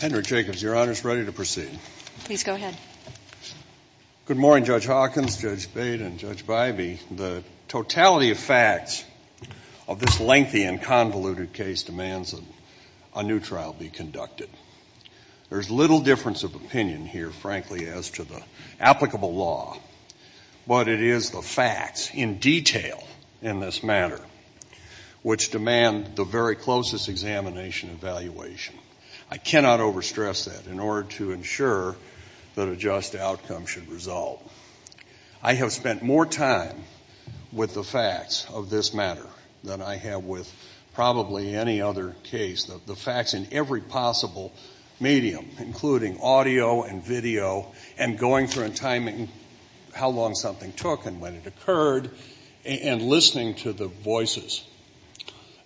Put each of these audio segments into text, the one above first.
Henry Jacobs, your Honor, is ready to proceed. Please go ahead. Good morning, Judge Hawkins, Judge Bate, and Judge Bybee. The totality of facts of this lengthy and convoluted case demands that a new trial be conducted. There's little difference of opinion here, frankly, as to the applicable law, but it is the facts in detail in this matter which demand the very closest examination and evaluation. I cannot overstress that in order to ensure that a just outcome should result. I have spent more time with the facts of this matter than I have with probably any other case. The facts in every possible medium, including audio and video and going through and timing how long something took and when it occurred and listening to the voices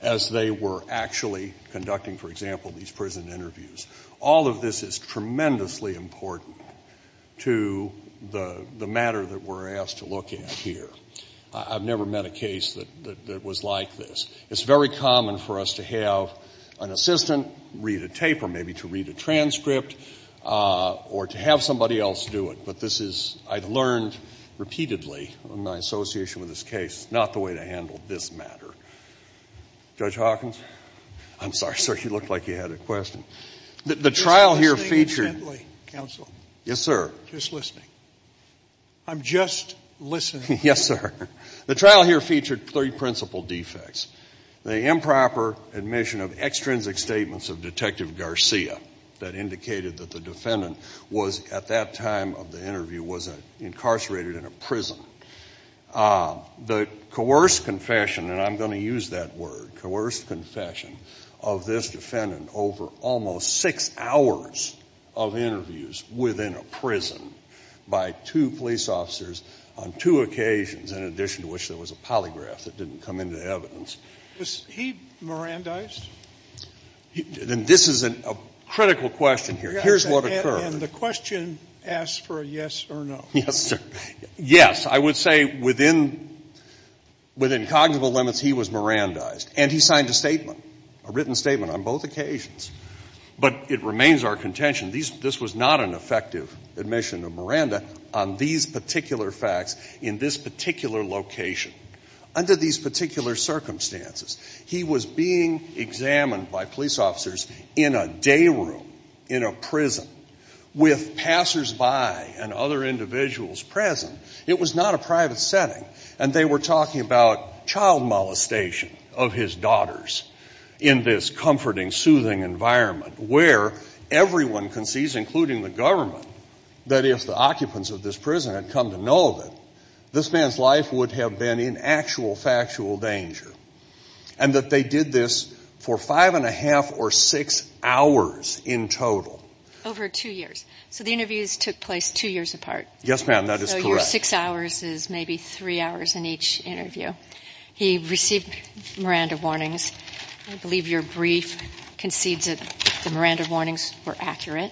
as they were actually conducting, for example, these prison interviews, all of this is tremendously important to the matter that we're asked to look at here. I've never met a case that was like this. It's very common for us to have an assistant read a tape or maybe to read a transcript or to have somebody else do it, but this is, I've learned repeatedly in my association with this case, not the way to handle this matter. Judge Hawkins? I'm sorry, sir. You looked like you had a question. The trial here featured Just listen intently, counsel. Yes, sir. Just listening. I'm just listening. Yes, sir. The trial here featured three principal defects. The improper admission of extrinsic statements of Detective Garcia that indicated that the defendant was, at that time of the trial, incarcerated in a prison. The coerced confession, and I'm going to use that word, coerced confession of this defendant over almost six hours of interviews within a prison by two police officers on two occasions, in addition to which there was a polygraph that didn't come into evidence. Was he Mirandized? This is a critical question here. Here's what occurred. And the question asks for a yes or no. Yes, sir. Yes. I would say within cognitive limits, he was Mirandized. And he signed a statement, a written statement on both occasions. But it remains our contention, this was not an effective admission of Miranda on these particular facts in this particular location. Under these particular circumstances, he was being examined by police officers in a day room, in a prison, with passersby and other individuals present. It was not a private setting. And they were talking about child molestation of his daughters in this comforting, soothing environment where everyone concedes, including the government, that if the occupants of this prison had come to know of it, this man's life would have been in actual factual danger. And that they did this for five and a half or six hours in total. Over two years. So the interviews took place two years apart. Yes, ma'am, that is correct. So your six hours is maybe three hours in each interview. He received Miranda warnings. I believe your brief concedes that the Miranda warnings were accurate.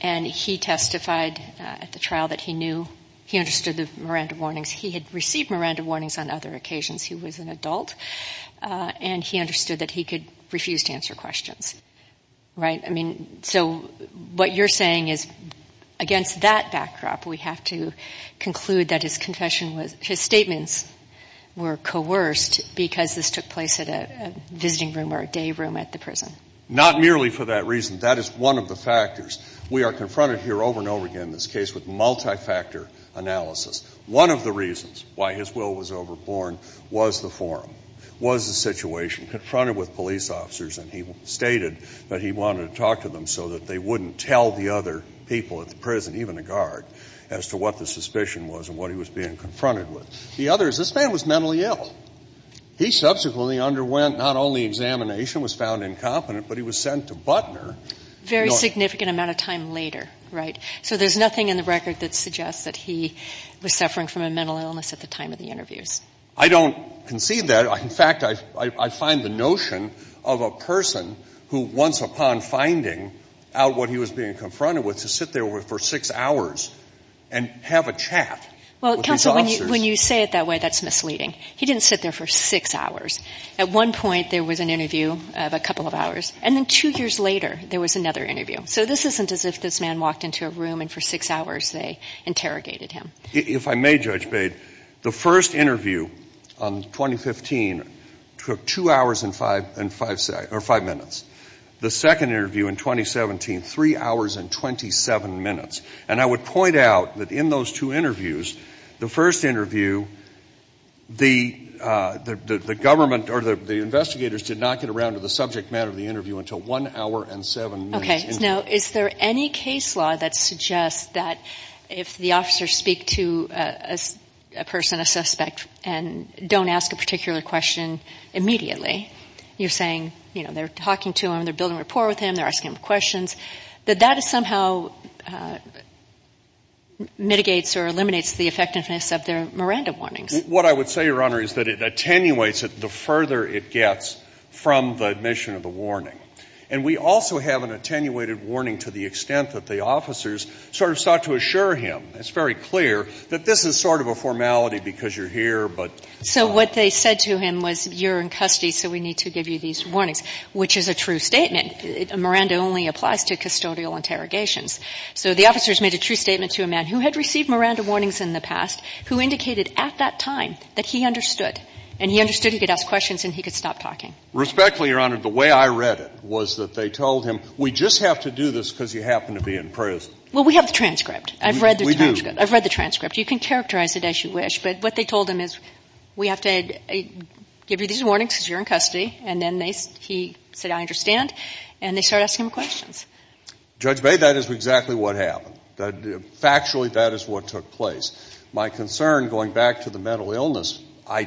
And he testified at the trial that he knew, he understood the Miranda warnings. He had received Miranda warnings on other occasions. He was an adult. And he understood that he could refuse to answer questions. Right? I mean, so what you're saying is, against that backdrop, we have to conclude that his confession was, his statements were coerced because this took place at a visiting room or a day room at the prison. Not merely for that reason. That is one of the factors. We are confronted here over and over again in this case with multi-factor analysis. One of the reasons why his will was overborne was the forum. Was the situation. Confronted with police officers. And he stated that he wanted to talk to them so that they wouldn't tell the other people at the prison, even the guard, as to what the suspicion was and what he was being confronted with. The other is, this man was mentally ill. He subsequently underwent not only examination, was found incompetent, but he was sent to Butner. Very significant amount of time later. Right? So there's nothing in the record that suggests that he was suffering from a mental illness at the time of the interviews. I don't concede that. In fact, I find the notion of a person who, once upon finding out what he was being confronted with, to sit there for six hours and have a chat with these officers. Well, counsel, when you say it that way, that's misleading. He didn't sit there for six So this isn't as if this man walked into a room and for six hours they interrogated him. If I may, Judge Bade, the first interview on 2015 took two hours and five minutes. The second interview in 2017, three hours and 27 minutes. And I would point out that in those two interviews, the first interview, the government or the investigators did not get around to the subject matter of the interview until one hour and seven minutes. Okay. Now, is there any case law that suggests that if the officers speak to a person, a suspect, and don't ask a particular question immediately, you're saying, you know, they're talking to him, they're building rapport with him, they're asking him questions, that that somehow mitigates or eliminates the effectiveness of their Miranda warnings? What I would say, Your Honor, is that it attenuates it the further it gets from the admission of the warning. And we also have an attenuated warning to the extent that the officers sort of sought to assure him, it's very clear, that this is sort of a formality because you're here, but So what they said to him was, you're in custody, so we need to give you these warnings, which is a true statement. Miranda only applies to custodial interrogations. So the officers made a true statement to a man who had received Miranda warnings in the past who indicated at that time that he understood. And he understood he could ask questions and he could stop talking. Respectfully, Your Honor, the way I read it was that they told him, we just have to do this because you happen to be in prison. Well, we have the transcript. I've read the transcript. I've read the transcript. You can characterize it as you wish, but what they told him is, we have to give you these warnings because you're in custody. And then he said, I understand, and they started asking him questions. Judge Bay, that is exactly what happened. Factually, that is what took place. My concern, going back to the mental illness, I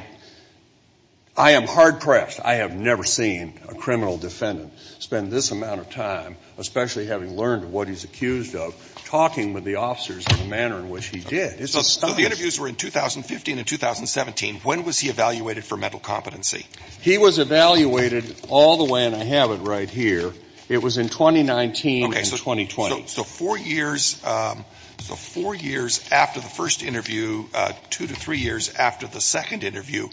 am hard-pressed. I have never seen a criminal defendant spend this amount of time, especially having learned what he's accused of, talking with the officers in the manner in which he did. It's astonishing. So the interviews were in 2015 and 2017. When was he evaluated for mental competency? He was evaluated all the way, and I have it right here. It was in 2019 and 2020. Okay. So four years, so four years after the first interview, two to three years after the second interview,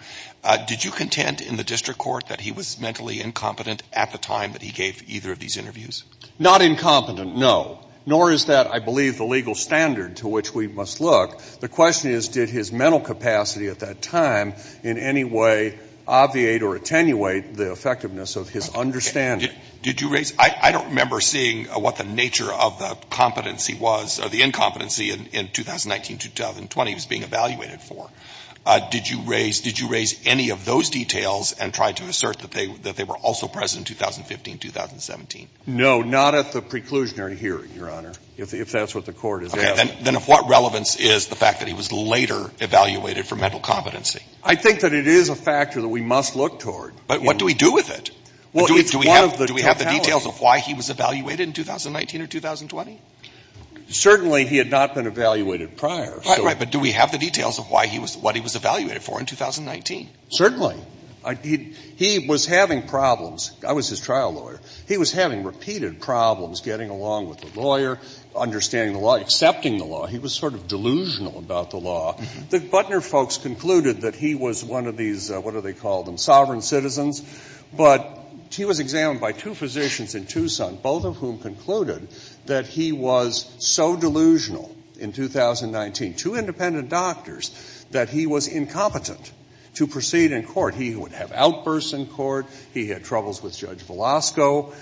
did you contend in the district court that he was mentally incompetent at the time that he gave either of these interviews? Not incompetent, no. Nor is that, I believe, the legal standard to which we must look. The question is, did his mental capacity at that time in any way obviate or attenuate the effectiveness of his understanding? Did you raise – I don't remember seeing what the nature of the competency was, or the incompetency in 2019, 2020 he was being evaluated for. Did you raise any of those details and try to assert that they were also present in 2015, 2017? No, not at the preclusionary hearing, Your Honor, if that's what the court is asking. Okay. Then what relevance is the fact that he was later evaluated for mental competency? I think that it is a factor that we must look toward. But what do we do with it? Well, it's one of the totalities. Do we have the details of why he was evaluated in 2019 or 2020? Certainly he had not been evaluated prior. Right, right. But do we have the details of why he was – what he was evaluated for in 2019? Certainly. He was having problems. I was his trial lawyer. He was having repeated problems getting along with the lawyer, understanding the law, accepting the law. He was sort of delusional about the law. The Butner folks concluded that he was one of these, what do they call them, sovereign citizens. But he was examined by two physicians in Tucson, both of whom concluded that he was so delusional in 2019, two independent doctors, that he was incompetent to proceed in court. He would have outbursts in court. He had troubles with Judge Velasco.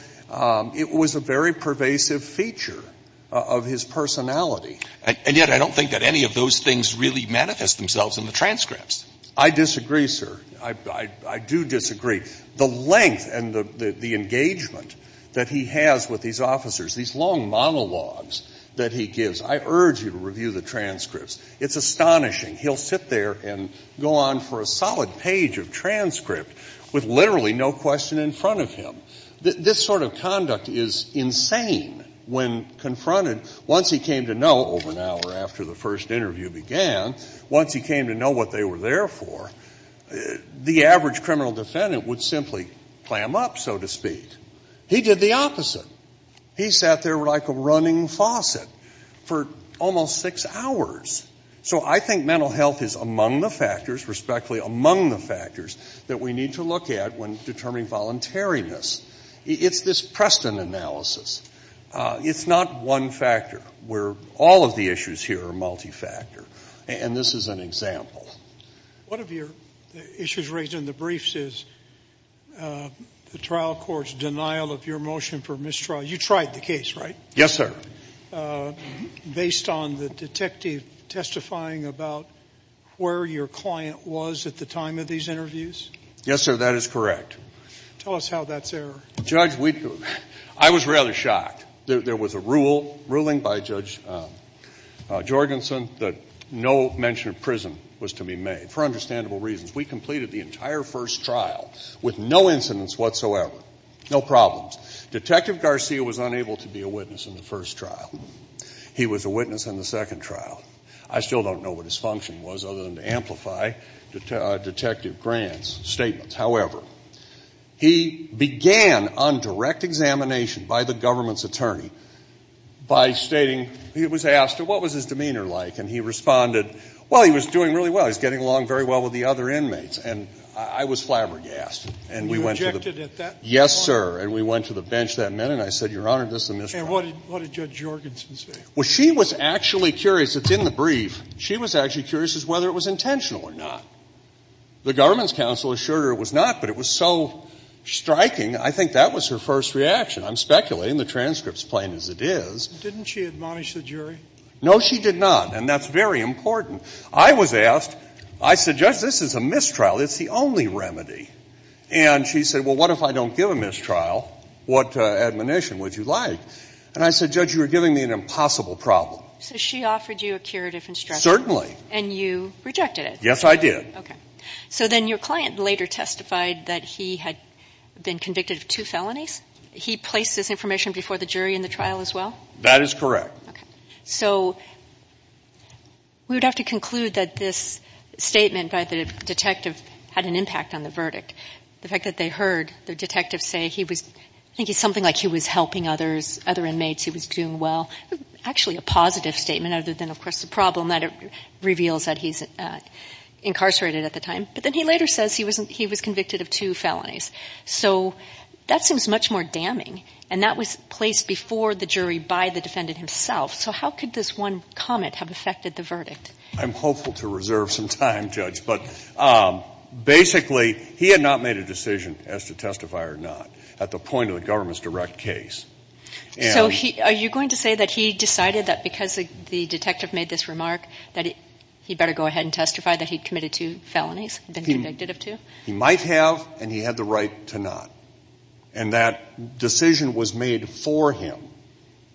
It was a very pervasive feature of his personality. And yet I don't think that any of those things really manifest themselves in the transcripts. I disagree, sir. I do disagree. The length and the engagement that he has with these officers, these long monologues that he gives, I urge you to review the transcripts. It's astonishing. He'll sit there and go on for a solid page of transcript with literally no question in front of him. This sort of conduct is insane when confronted. Once he came to know over an hour after the first interview began, once he came to know, the average criminal defendant would simply clam up, so to speak. He did the opposite. He sat there like a running faucet for almost six hours. So I think mental health is among the factors, respectfully among the factors, that we need to look at when determining voluntariness. It's this Preston analysis. It's not one factor where all of the issues here are multifactor. And this is an example. One of your issues raised in the briefs is the trial court's denial of your motion for mistrial. You tried the case, right? Yes, sir. Based on the detective testifying about where your client was at the time of these interviews? Yes, sir. That is correct. Tell us how that's there. Judge, I was rather shocked. There was a ruling by Judge Jorgensen that no mention of prison was to be made, for understandable reasons. We completed the entire first trial with no incidents whatsoever, no problems. Detective Garcia was unable to be a witness in the first trial. He was a witness in the second trial. I still don't know what his function was other than to amplify Detective Grant's statements. However, he began on direct examination by the government's attorney by stating he was asked, what was his demeanor like? And he responded, well, he was doing really well. He was getting along very well with the other inmates. And I was flabbergasted. You objected at that point? Yes, sir. And we went to the bench that minute and I said, Your Honor, this is a mistrial. And what did Judge Jorgensen say? Well, she was actually curious. It's in the brief. She was actually curious as to whether it was intentional or not. The government's counsel assured her it was not, but it was so striking. I think that was her first reaction. I'm speculating. The transcript's plain as it is. Didn't she admonish the jury? No, she did not. And that's very important. I was asked, I said, Judge, this is a mistrial. It's the only remedy. And she said, well, what if I don't give a mistrial? What admonition would you like? And I said, Judge, you are giving me an impossible problem. So she offered you a curative instruction? Certainly. And you rejected it? Yes, I did. So then your client later testified that he had been convicted of two felonies. He placed this information before the jury in the trial as well? That is correct. Okay. So we would have to conclude that this statement by the detective had an impact on the verdict. The fact that they heard the detective say he was thinking something like he was helping other inmates, he was doing well, actually a positive statement other than, of course, the problem that it reveals that he's incarcerated at the time. But then he later says he was convicted of two felonies. So that seems much more damning. And that was placed before the jury by the defendant himself. So how could this one comment have affected the verdict? I'm hopeful to reserve some time, Judge. But basically, he had not made a decision as to testify or not at the point of the government's direct case. So are you going to say that he decided that because the detective made this remark that he better go ahead and testify that he'd committed two felonies, been convicted of two? He might have, and he had the right to not. And that decision was made for him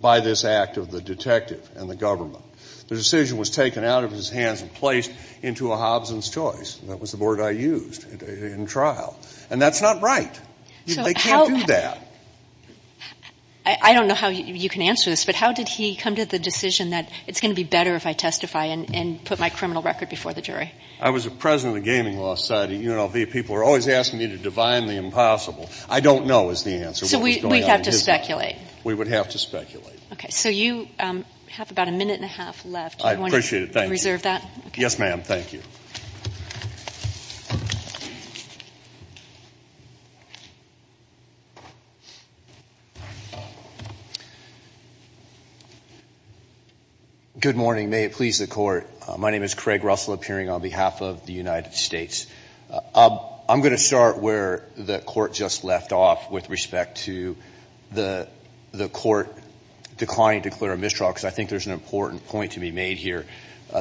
by this act of the detective and the government. The decision was taken out of his hands and placed into a Hobson's Choice. That was the board I used in trial. And that's not right. They can't do that. I don't know how you can answer this, but how did he come to the decision that it's going to be better if I testify and put my criminal record before the jury? I was the president of the Gaming Law Society at UNLV. People were always asking me to divine the impossible. I don't know is the answer. So we'd have to speculate. We would have to speculate. Okay. So you have about a minute and a half left. I appreciate it. Do you want to reserve that? Yes, ma'am. Thank you. Good morning. May it please the Court. My name is Craig Russell, appearing on behalf of the United States. I'm going to start where the Court just left off with respect to the Court declining to declare a mistrial, because I think there's an important point to be made here.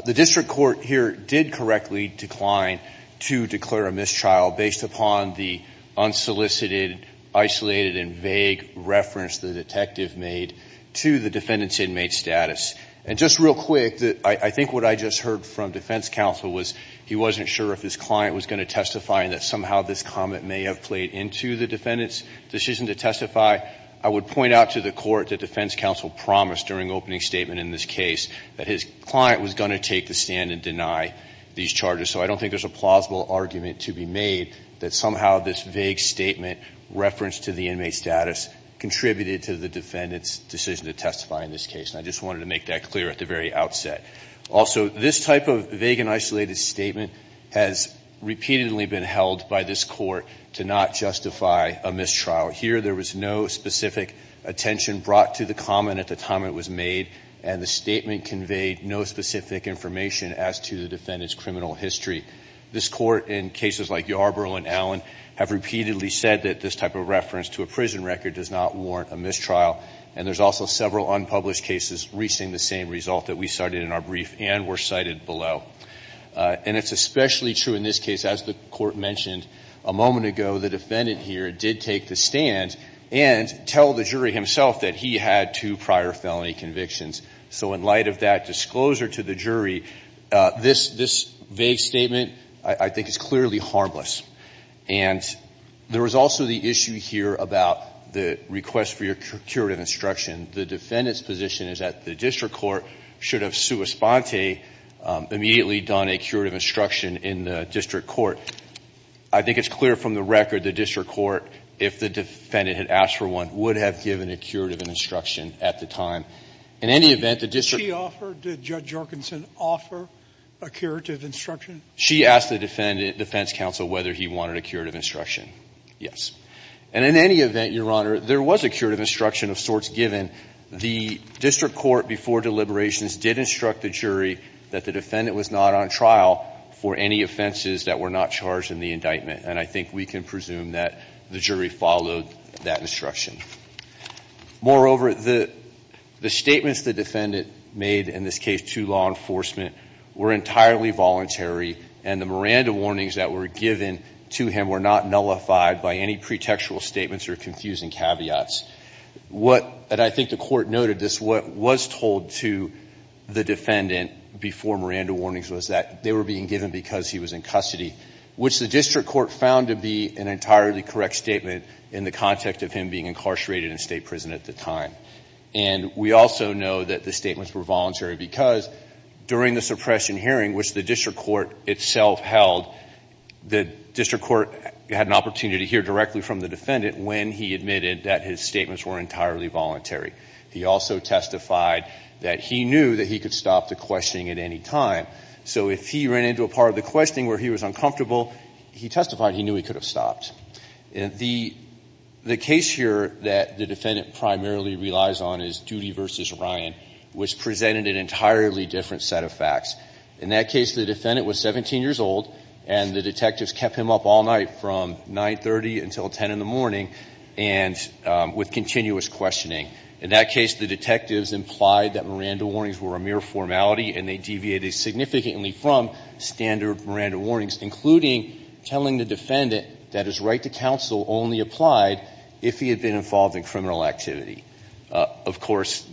The district court here did correctly decline to declare a mistrial based upon the unsolicited, isolated, and vague reference the detective made to the defendant's inmate status. And just real quick, I think what I just heard from defense counsel was he wasn't sure if his client was going to testify and that somehow this comment may have played into the defendant's decision to testify. I would point out to the Court that defense counsel promised during opening statement in this case that his client was going to take the stand and deny these charges. So I don't think there's a plausible argument to be made that somehow this vague statement referenced to the inmate status contributed to the defendant's decision to testify in this case. And I just wanted to make that clear at the very outset. Also, this type of vague and isolated statement has repeatedly been held by this Court to not justify a mistrial. Here, there was no specific attention brought to the comment at the time it was made, and the statement conveyed no specific information as to the defendant's criminal history. This Court, in cases like Yarborough and Allen, have repeatedly said that this type of reference to a prison record does not warrant a mistrial. And there's also several unpublished cases reaching the same result that we cited in our brief and were cited below. And it's especially true in this case. As the Court mentioned a moment ago, the defendant here did take the stand and tell the jury himself that he had two prior felony convictions. So in light of that disclosure to the jury, this vague statement, I think, is clearly harmless. And there was also the issue here about the request for your curative instruction. The defendant's position is that the district court should have sua sponte, immediately done a curative instruction in the district court. I think it's clear from the record the district court, if the defendant had asked for one, would have given a curative instruction at the time. In any event, the district court Did she offer? Did Judge Jorkinson offer a curative instruction? She asked the defense counsel whether he wanted a curative instruction. Yes. And in any event, Your Honor, there was a curative instruction of sorts given. The district court, before deliberations, did instruct the jury that the defendant was not on trial for any offenses that were not charged in the indictment. And I think we can presume that the jury followed that instruction. Moreover, the statements the defendant made, in this case to law enforcement, were entirely voluntary, and the Miranda warnings that were given to him were not nullified by any pretextual statements or confusing caveats. And I think the court noted this. What was told to the defendant before Miranda warnings was that they were being given because he was in custody, which the district court found to be an entirely correct statement in the context of him being incarcerated in state prison at the time. And we also know that the statements were voluntary because during the suppression hearing, which the district court itself held, the district court had an opportunity to hear directly from the defendant when he admitted that his statements were entirely voluntary. He also testified that he knew that he could stop the questioning at any time. So if he ran into a part of the questioning where he was uncomfortable, he testified he knew he could have stopped. The case here that the defendant primarily relies on is Duty v. Ryan, which presented an entirely different set of facts. In that case, the defendant was 17 years old, and the detectives kept him up all night from 9.30 until 10 in the morning and with continuous questioning. In that case, the detectives implied that Miranda warnings were a mere formality and they deviated significantly from standard Miranda warnings, including telling the defendant that his right to counsel only applied if he had been involved in criminal activity. Of course,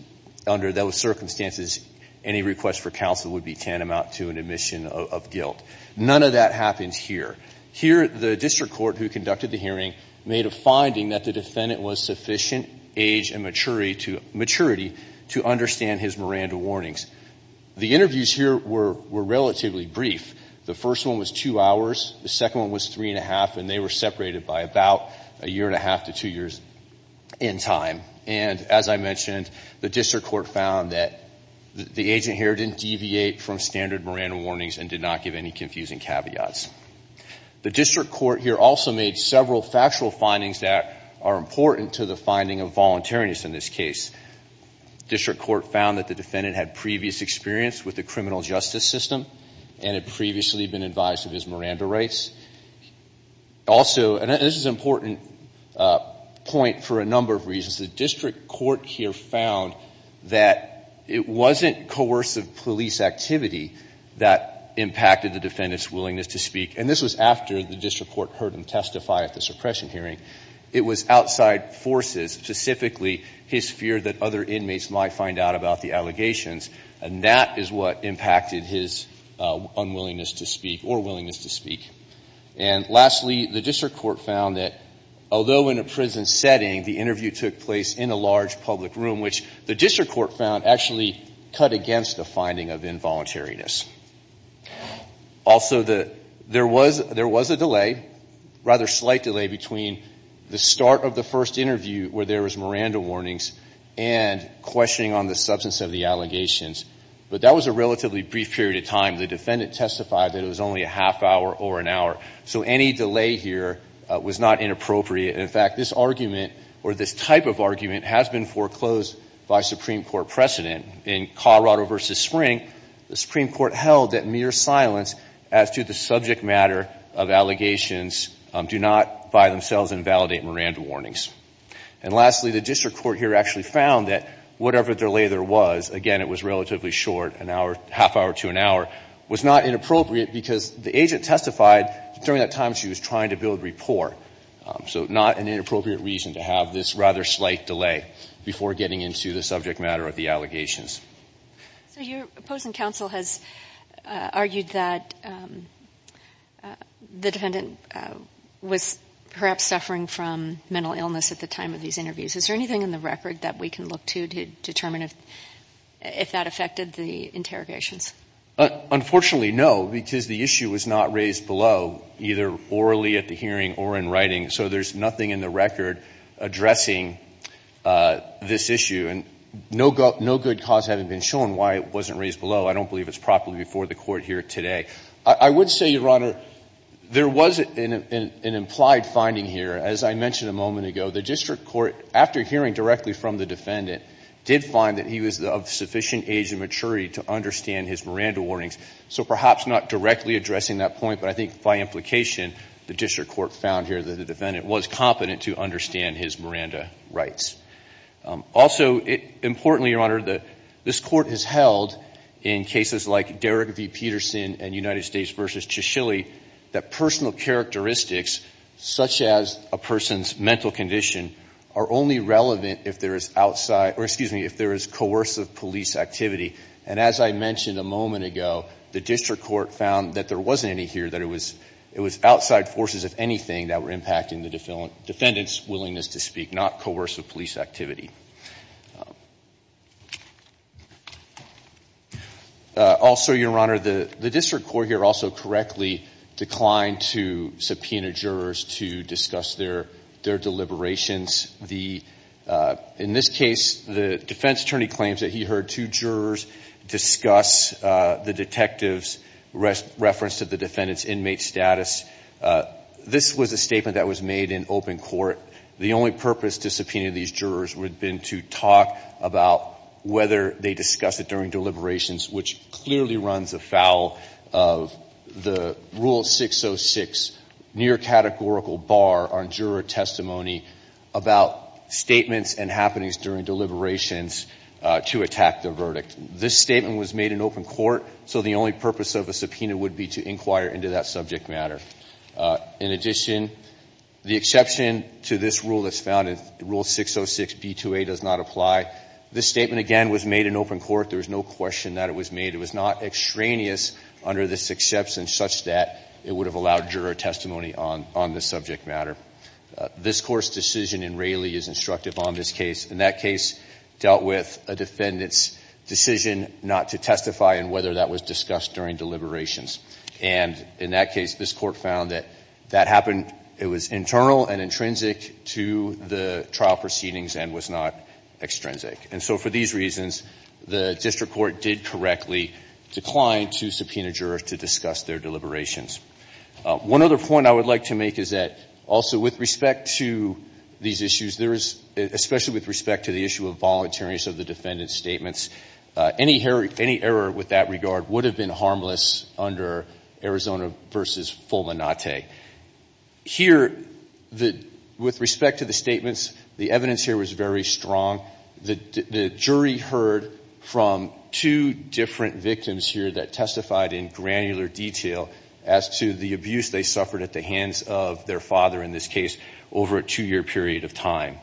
under those circumstances, any request for counsel would be tantamount to an admission of guilt. None of that happens here. Here the district court who conducted the hearing made a finding that the defendant was sufficient age and maturity to understand his Miranda warnings. The interviews here were relatively brief. The first one was two hours. The second one was three and a half, and they were separated by about a year and a half to two years in time. And as I mentioned, the district court found that the agent here didn't deviate from standard Miranda warnings and did not give any confusing caveats. The district court here also made several factual findings that are important to the finding of voluntariness in this case. The district court found that the defendant had previous experience with the criminal justice system and had previously been advised of his Miranda rights. Also, and this is an important point for a number of reasons. The district court here found that it wasn't coercive police activity that impacted the defendant's willingness to speak, and this was after the district court heard him testify at the suppression hearing. It was outside forces, specifically his fear that other inmates might find out about the allegations, and that is what impacted his unwillingness to speak or willingness to speak. And lastly, the district court found that although in a prison setting the interview took place in a large public room, which the district court found actually cut against the finding of involuntariness. Also, there was a delay, rather slight delay, between the start of the first interview where there was Miranda warnings and questioning on the substance of the allegations, but that was a relatively brief period of time. The defendant testified that it was only a half hour or an hour, so any delay here was not inappropriate. In fact, this argument or this type of argument has been foreclosed by Supreme Court precedent. In Colorado v. Spring, the Supreme Court held that mere silence as to the subject matter of allegations do not by themselves invalidate Miranda warnings. And lastly, the district court here actually found that whatever delay there was, again, it was relatively short, an hour, half hour to an hour, was not inappropriate because the agent testified during that time she was trying to build rapport. So not an inappropriate reason to have this rather slight delay before getting into the subject matter of the allegations. So your opposing counsel has argued that the defendant was perhaps suffering from mental illness at the time of these interviews. Is there anything in the record that we can look to to determine if that affected the interrogations? Unfortunately, no, because the issue was not raised below, either orally at the hearing or in writing. So there's nothing in the record addressing this issue. And no good cause having been shown why it wasn't raised below. I don't believe it's properly before the Court here today. I would say, Your Honor, there was an implied finding here. As I mentioned a moment ago, the district court, after hearing directly from the defendant, did find that he was of sufficient age and maturity to understand his Miranda warnings. So perhaps not directly addressing that point, but I think by implication, the district court found here that the defendant was competent to understand his Miranda rights. Also, importantly, Your Honor, this Court has held in cases like Derrick v. Peterson and United States v. Chisholm that personal characteristics, such as a person's mental condition, are only relevant if there is coercive police activity. And as I mentioned a moment ago, the district court found that there wasn't any evidence here that it was outside forces, if anything, that were impacting the defendant's willingness to speak, not coercive police activity. Also, Your Honor, the district court here also correctly declined to subpoena jurors to discuss their deliberations. In this case, the defense attorney claims that he heard two jurors discuss the detective's reference to the defendant's inmate status. This was a statement that was made in open court. The only purpose to subpoena these jurors would have been to talk about whether they discussed it during deliberations, which clearly runs afoul of the Rule 606 near-categorical bar on juror testimony about statements and happenings during deliberations to attack the verdict. This statement was made in open court, so the only purpose of a subpoena would be to inquire into that subject matter. In addition, the exception to this rule that's found in Rule 606b2a does not apply. This statement, again, was made in open court. There was no question that it was made. It was not extraneous under this exception such that it would have allowed juror testimony on this subject matter. This Court's decision in Raley is instructive on this case. In that case, dealt with a defendant's decision not to testify and whether that was discussed during deliberations. And in that case, this Court found that that happened, it was internal and intrinsic to the trial proceedings and was not extrinsic. And so for these reasons, the district court did correctly decline to subpoena jurors to discuss their deliberations. One other point I would like to make is that also with respect to these issues, especially with respect to the issue of voluntariness of the defendant's statements, any error with that regard would have been harmless under Arizona v. Fulminante. Here, with respect to the statements, the evidence here was very strong. The jury heard from two different victims here that testified in granular detail as to the abuse they suffered at the hands of their father in this case over a two-year period of time.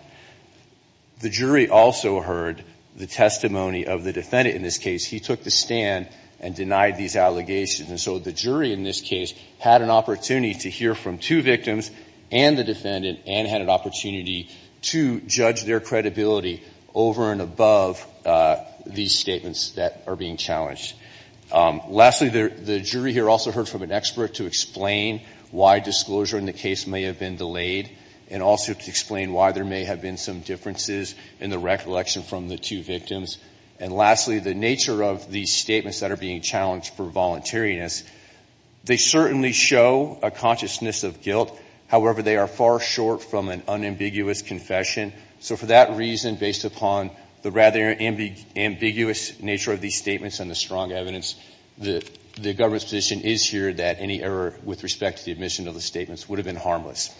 The jury also heard the testimony of the defendant in this case. He took the stand and denied these allegations. And so the jury in this case had an opportunity to hear from two victims and the defendant and had an opportunity to judge their credibility over and above these statements that are being challenged. Lastly, the jury here also heard from an expert to explain why disclosure in the case may have been delayed and also to explain why there may have been some differences in the recollection from the two victims. And lastly, the nature of these statements that are being challenged for voluntariness, they certainly show a consciousness of guilt. However, they are far short from an unambiguous confession. So for that reason, based upon the rather ambiguous nature of these statements and the strong evidence, the government's position is here that any error with respect to the admission of the statements would have been harmless.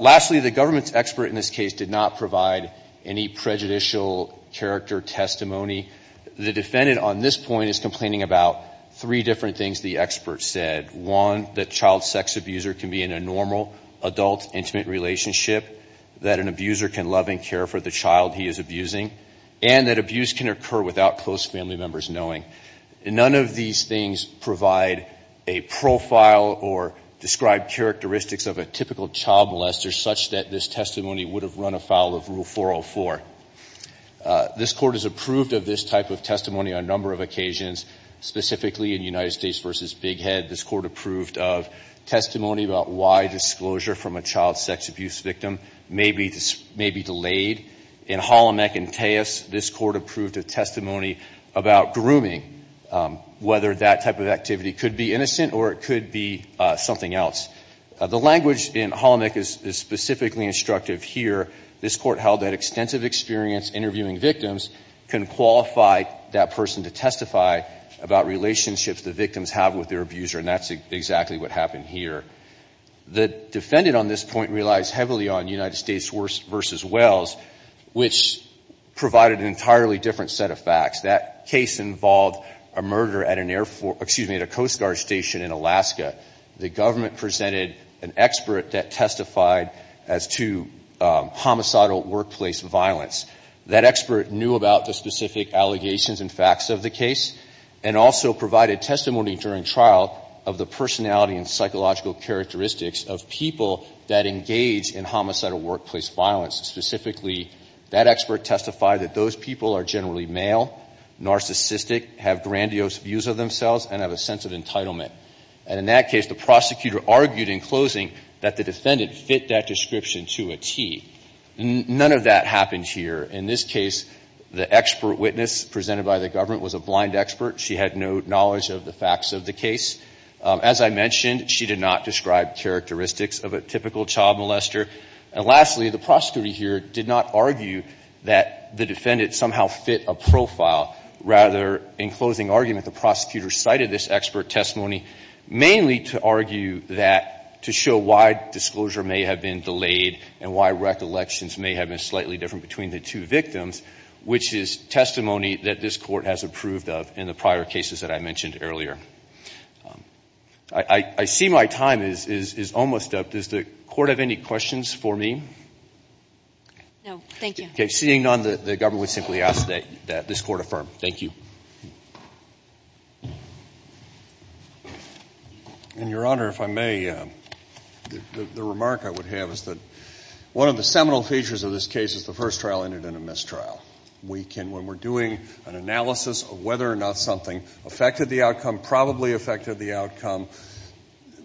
Lastly, the government's expert in this case did not provide any prejudicial character testimony. The defendant on this point is complaining about three different things the expert said. One, that child sex abuser can be in a normal adult intimate relationship, that an abuser can love and care for the child he is abusing, and that abuse can occur without close family members knowing. None of these things provide a profile or describe characteristics of a typical child molester such that this testimony would have run afoul of Rule 404. This Court has approved of this type of testimony on a number of occasions, specifically in United States v. Big Head. This Court approved of testimony about why disclosure from a child sex abuse victim may be delayed. In Holomec and Teos, this Court approved a testimony about grooming, whether that type of activity could be innocent or it could be something else. The language in Holomec is specifically instructive here. This Court held that extensive experience interviewing victims can qualify that person to testify about relationships the victims have with their abuser, and that's exactly what happened here. The defendant on this point relies heavily on United States v. Wells, which provided an entirely different set of facts. That case involved a murder at a Coast Guard station in Alaska. The government presented an expert that testified as to homicidal workplace violence. That expert knew about the specific allegations and facts of the case and also provided testimony during trial of the personality and psychological characteristics of people that engage in homicidal workplace violence. Specifically, that expert testified that those people are generally male, narcissistic, have grandiose views of themselves, and have a sense of entitlement. And in that case, the prosecutor argued in closing that the defendant fit that description to a T. None of that happened here. In this case, the expert witness presented by the government was a blind expert. She had no knowledge of the facts of the case. As I mentioned, she did not describe characteristics of a typical child molester. And lastly, the prosecutor here did not argue that the defendant somehow fit a profile. Rather, in closing argument, the prosecutor cited this expert testimony mainly to argue that to show why disclosure may have been delayed and why recollections may have been slightly different between the two victims, which is testimony that this Court has approved of in the prior cases that I mentioned earlier. I see my time is almost up. Does the Court have any questions for me? No. Thank you. Seeing none, the government would simply ask that this Court affirm. Thank you. And, Your Honor, if I may, the remark I would have is that one of the seminal features of this case is the first trial ended in a mistrial. We can, when we're doing an analysis of whether or not something affected the outcome, probably affected the outcome,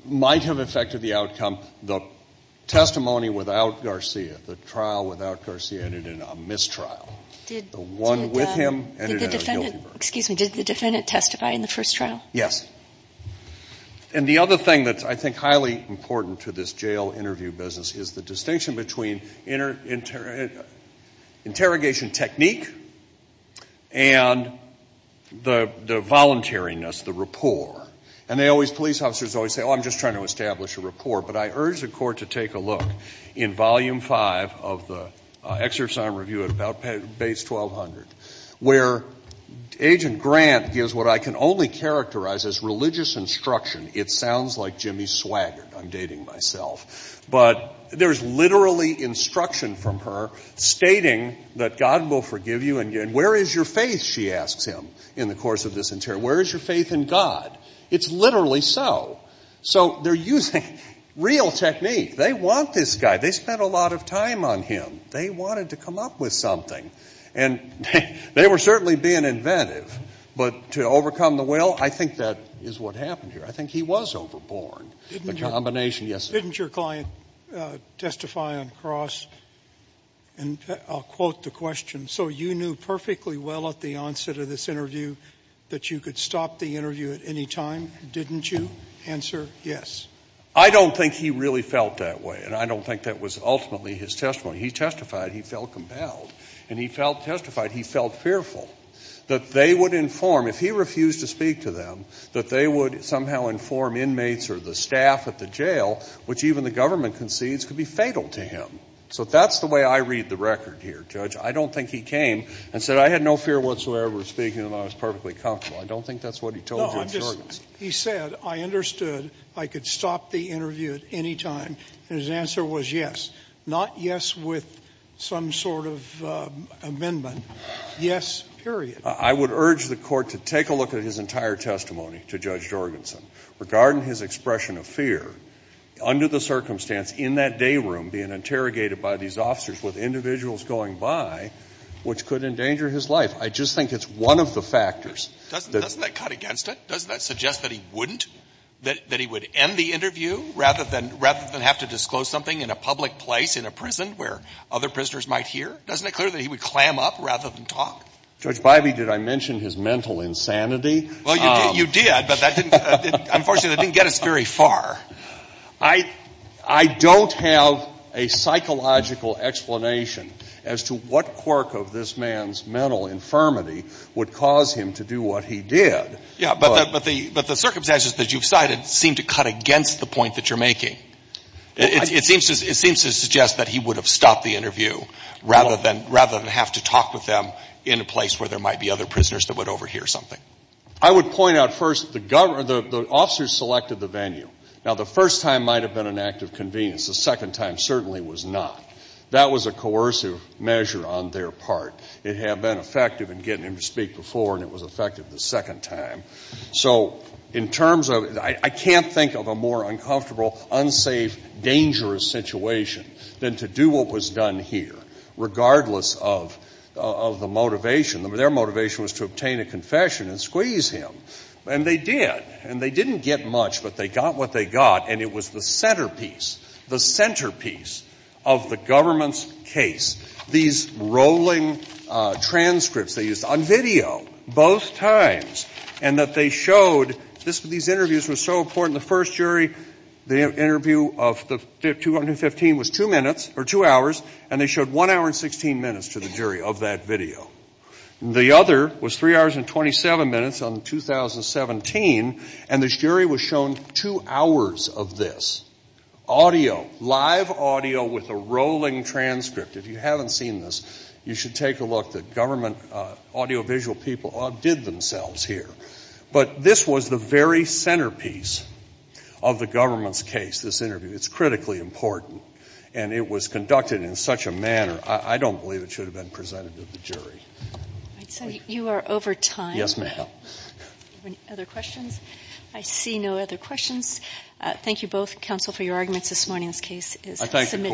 might have affected the outcome, the testimony without Garcia, the trial without Garcia ended in a mistrial. The one with him ended in a guilty verdict. Excuse me. Did the defendant testify in the first trial? Yes. And the other thing that's, I think, highly important to this jail interview business is the distinction between interrogation technique and the voluntariness, the rapport. And they always, police officers always say, oh, I'm just trying to establish a rapport. But I urge the Court to take a look in Volume 5 of the Excerpts on Review at about base 1200, where Agent Grant gives what I can only characterize as religious instruction. It sounds like Jimmy Swaggard. I'm dating myself. But there's literally instruction from her stating that God will forgive you and where is your faith, she asks him in the course of this interrogation. Where is your faith in God? It's literally so. So they're using real technique. They want this guy. They spent a lot of time on him. They wanted to come up with something. And they were certainly being inventive. But to overcome the will, I think that is what happened here. I think he was overborn. The combination. Didn't your client testify on cross? And I'll quote the question. So you knew perfectly well at the onset of this interview that you could stop the interview at any time, didn't you? Answer, yes. I don't think he really felt that way. And I don't think that was ultimately his testimony. He testified he felt compelled. And he testified he felt fearful that they would inform, if he refused to speak to them, that they would somehow inform inmates or the staff at the jail, which even the government concedes could be fatal to him. So that's the way I read the record here, Judge. I don't think he came and said I had no fear whatsoever of speaking and I was perfectly comfortable. I don't think that's what he told Judge Jorgensen. He said, I understood. I could stop the interview at any time. And his answer was yes. Not yes with some sort of amendment. Yes, period. I would urge the Court to take a look at his entire testimony to Judge Jorgensen regarding his expression of fear under the circumstance in that day room being interrogated by these officers with individuals going by which could endanger his life. I just think it's one of the factors. Doesn't that cut against it? Doesn't that suggest that he wouldn't, that he would end the interview rather than have to disclose something in a public place, in a prison, where other prisoners might hear? Doesn't it clear that he would clam up rather than talk? Judge Bivey, did I mention his mental insanity? Well, you did, but that didn't, unfortunately, that didn't get us very far. I don't have a psychological explanation as to what quirk of this man's mental infirmity would cause him to do what he did. Yeah, but the circumstances that you've cited seem to cut against the point that you're making. It seems to suggest that he would have stopped the interview rather than have to talk with them in a place where there might be other prisoners that would overhear something. I would point out first, the officers selected the venue. Now, the first time might have been an act of convenience. The second time certainly was not. That was a coercive measure on their part. It had been effective in getting him to speak before, and it was effective the second time. So in terms of, I can't think of a more uncomfortable, unsafe, dangerous situation than to do what was done here, regardless of the motivation. Their motivation was to obtain a confession and squeeze him. And they did, and they didn't get much, but they got what they got, and it was the centerpiece, the centerpiece of the government's case. These rolling transcripts they used on video, both times, and that they showed these interviews were so important. The first jury, the interview of 215 was two minutes, or two hours, and they showed one hour and 16 minutes to the jury of that video. The other was three hours and 27 minutes on 2017, and the jury was shown two hours of this, audio, live audio with a rolling transcript. If you haven't seen this, you should take a look. The government audiovisual people outdid themselves here. But this was the very centerpiece of the government's case, this interview. It's critically important, and it was conducted in such a manner. I don't believe it should have been presented to the jury. All right. So you are over time. Yes, ma'am. Any other questions? I see no other questions. Thank you both, counsel, for your arguments this morning. This case is submitted. Thank you, sir. Thank you, Mr. Court.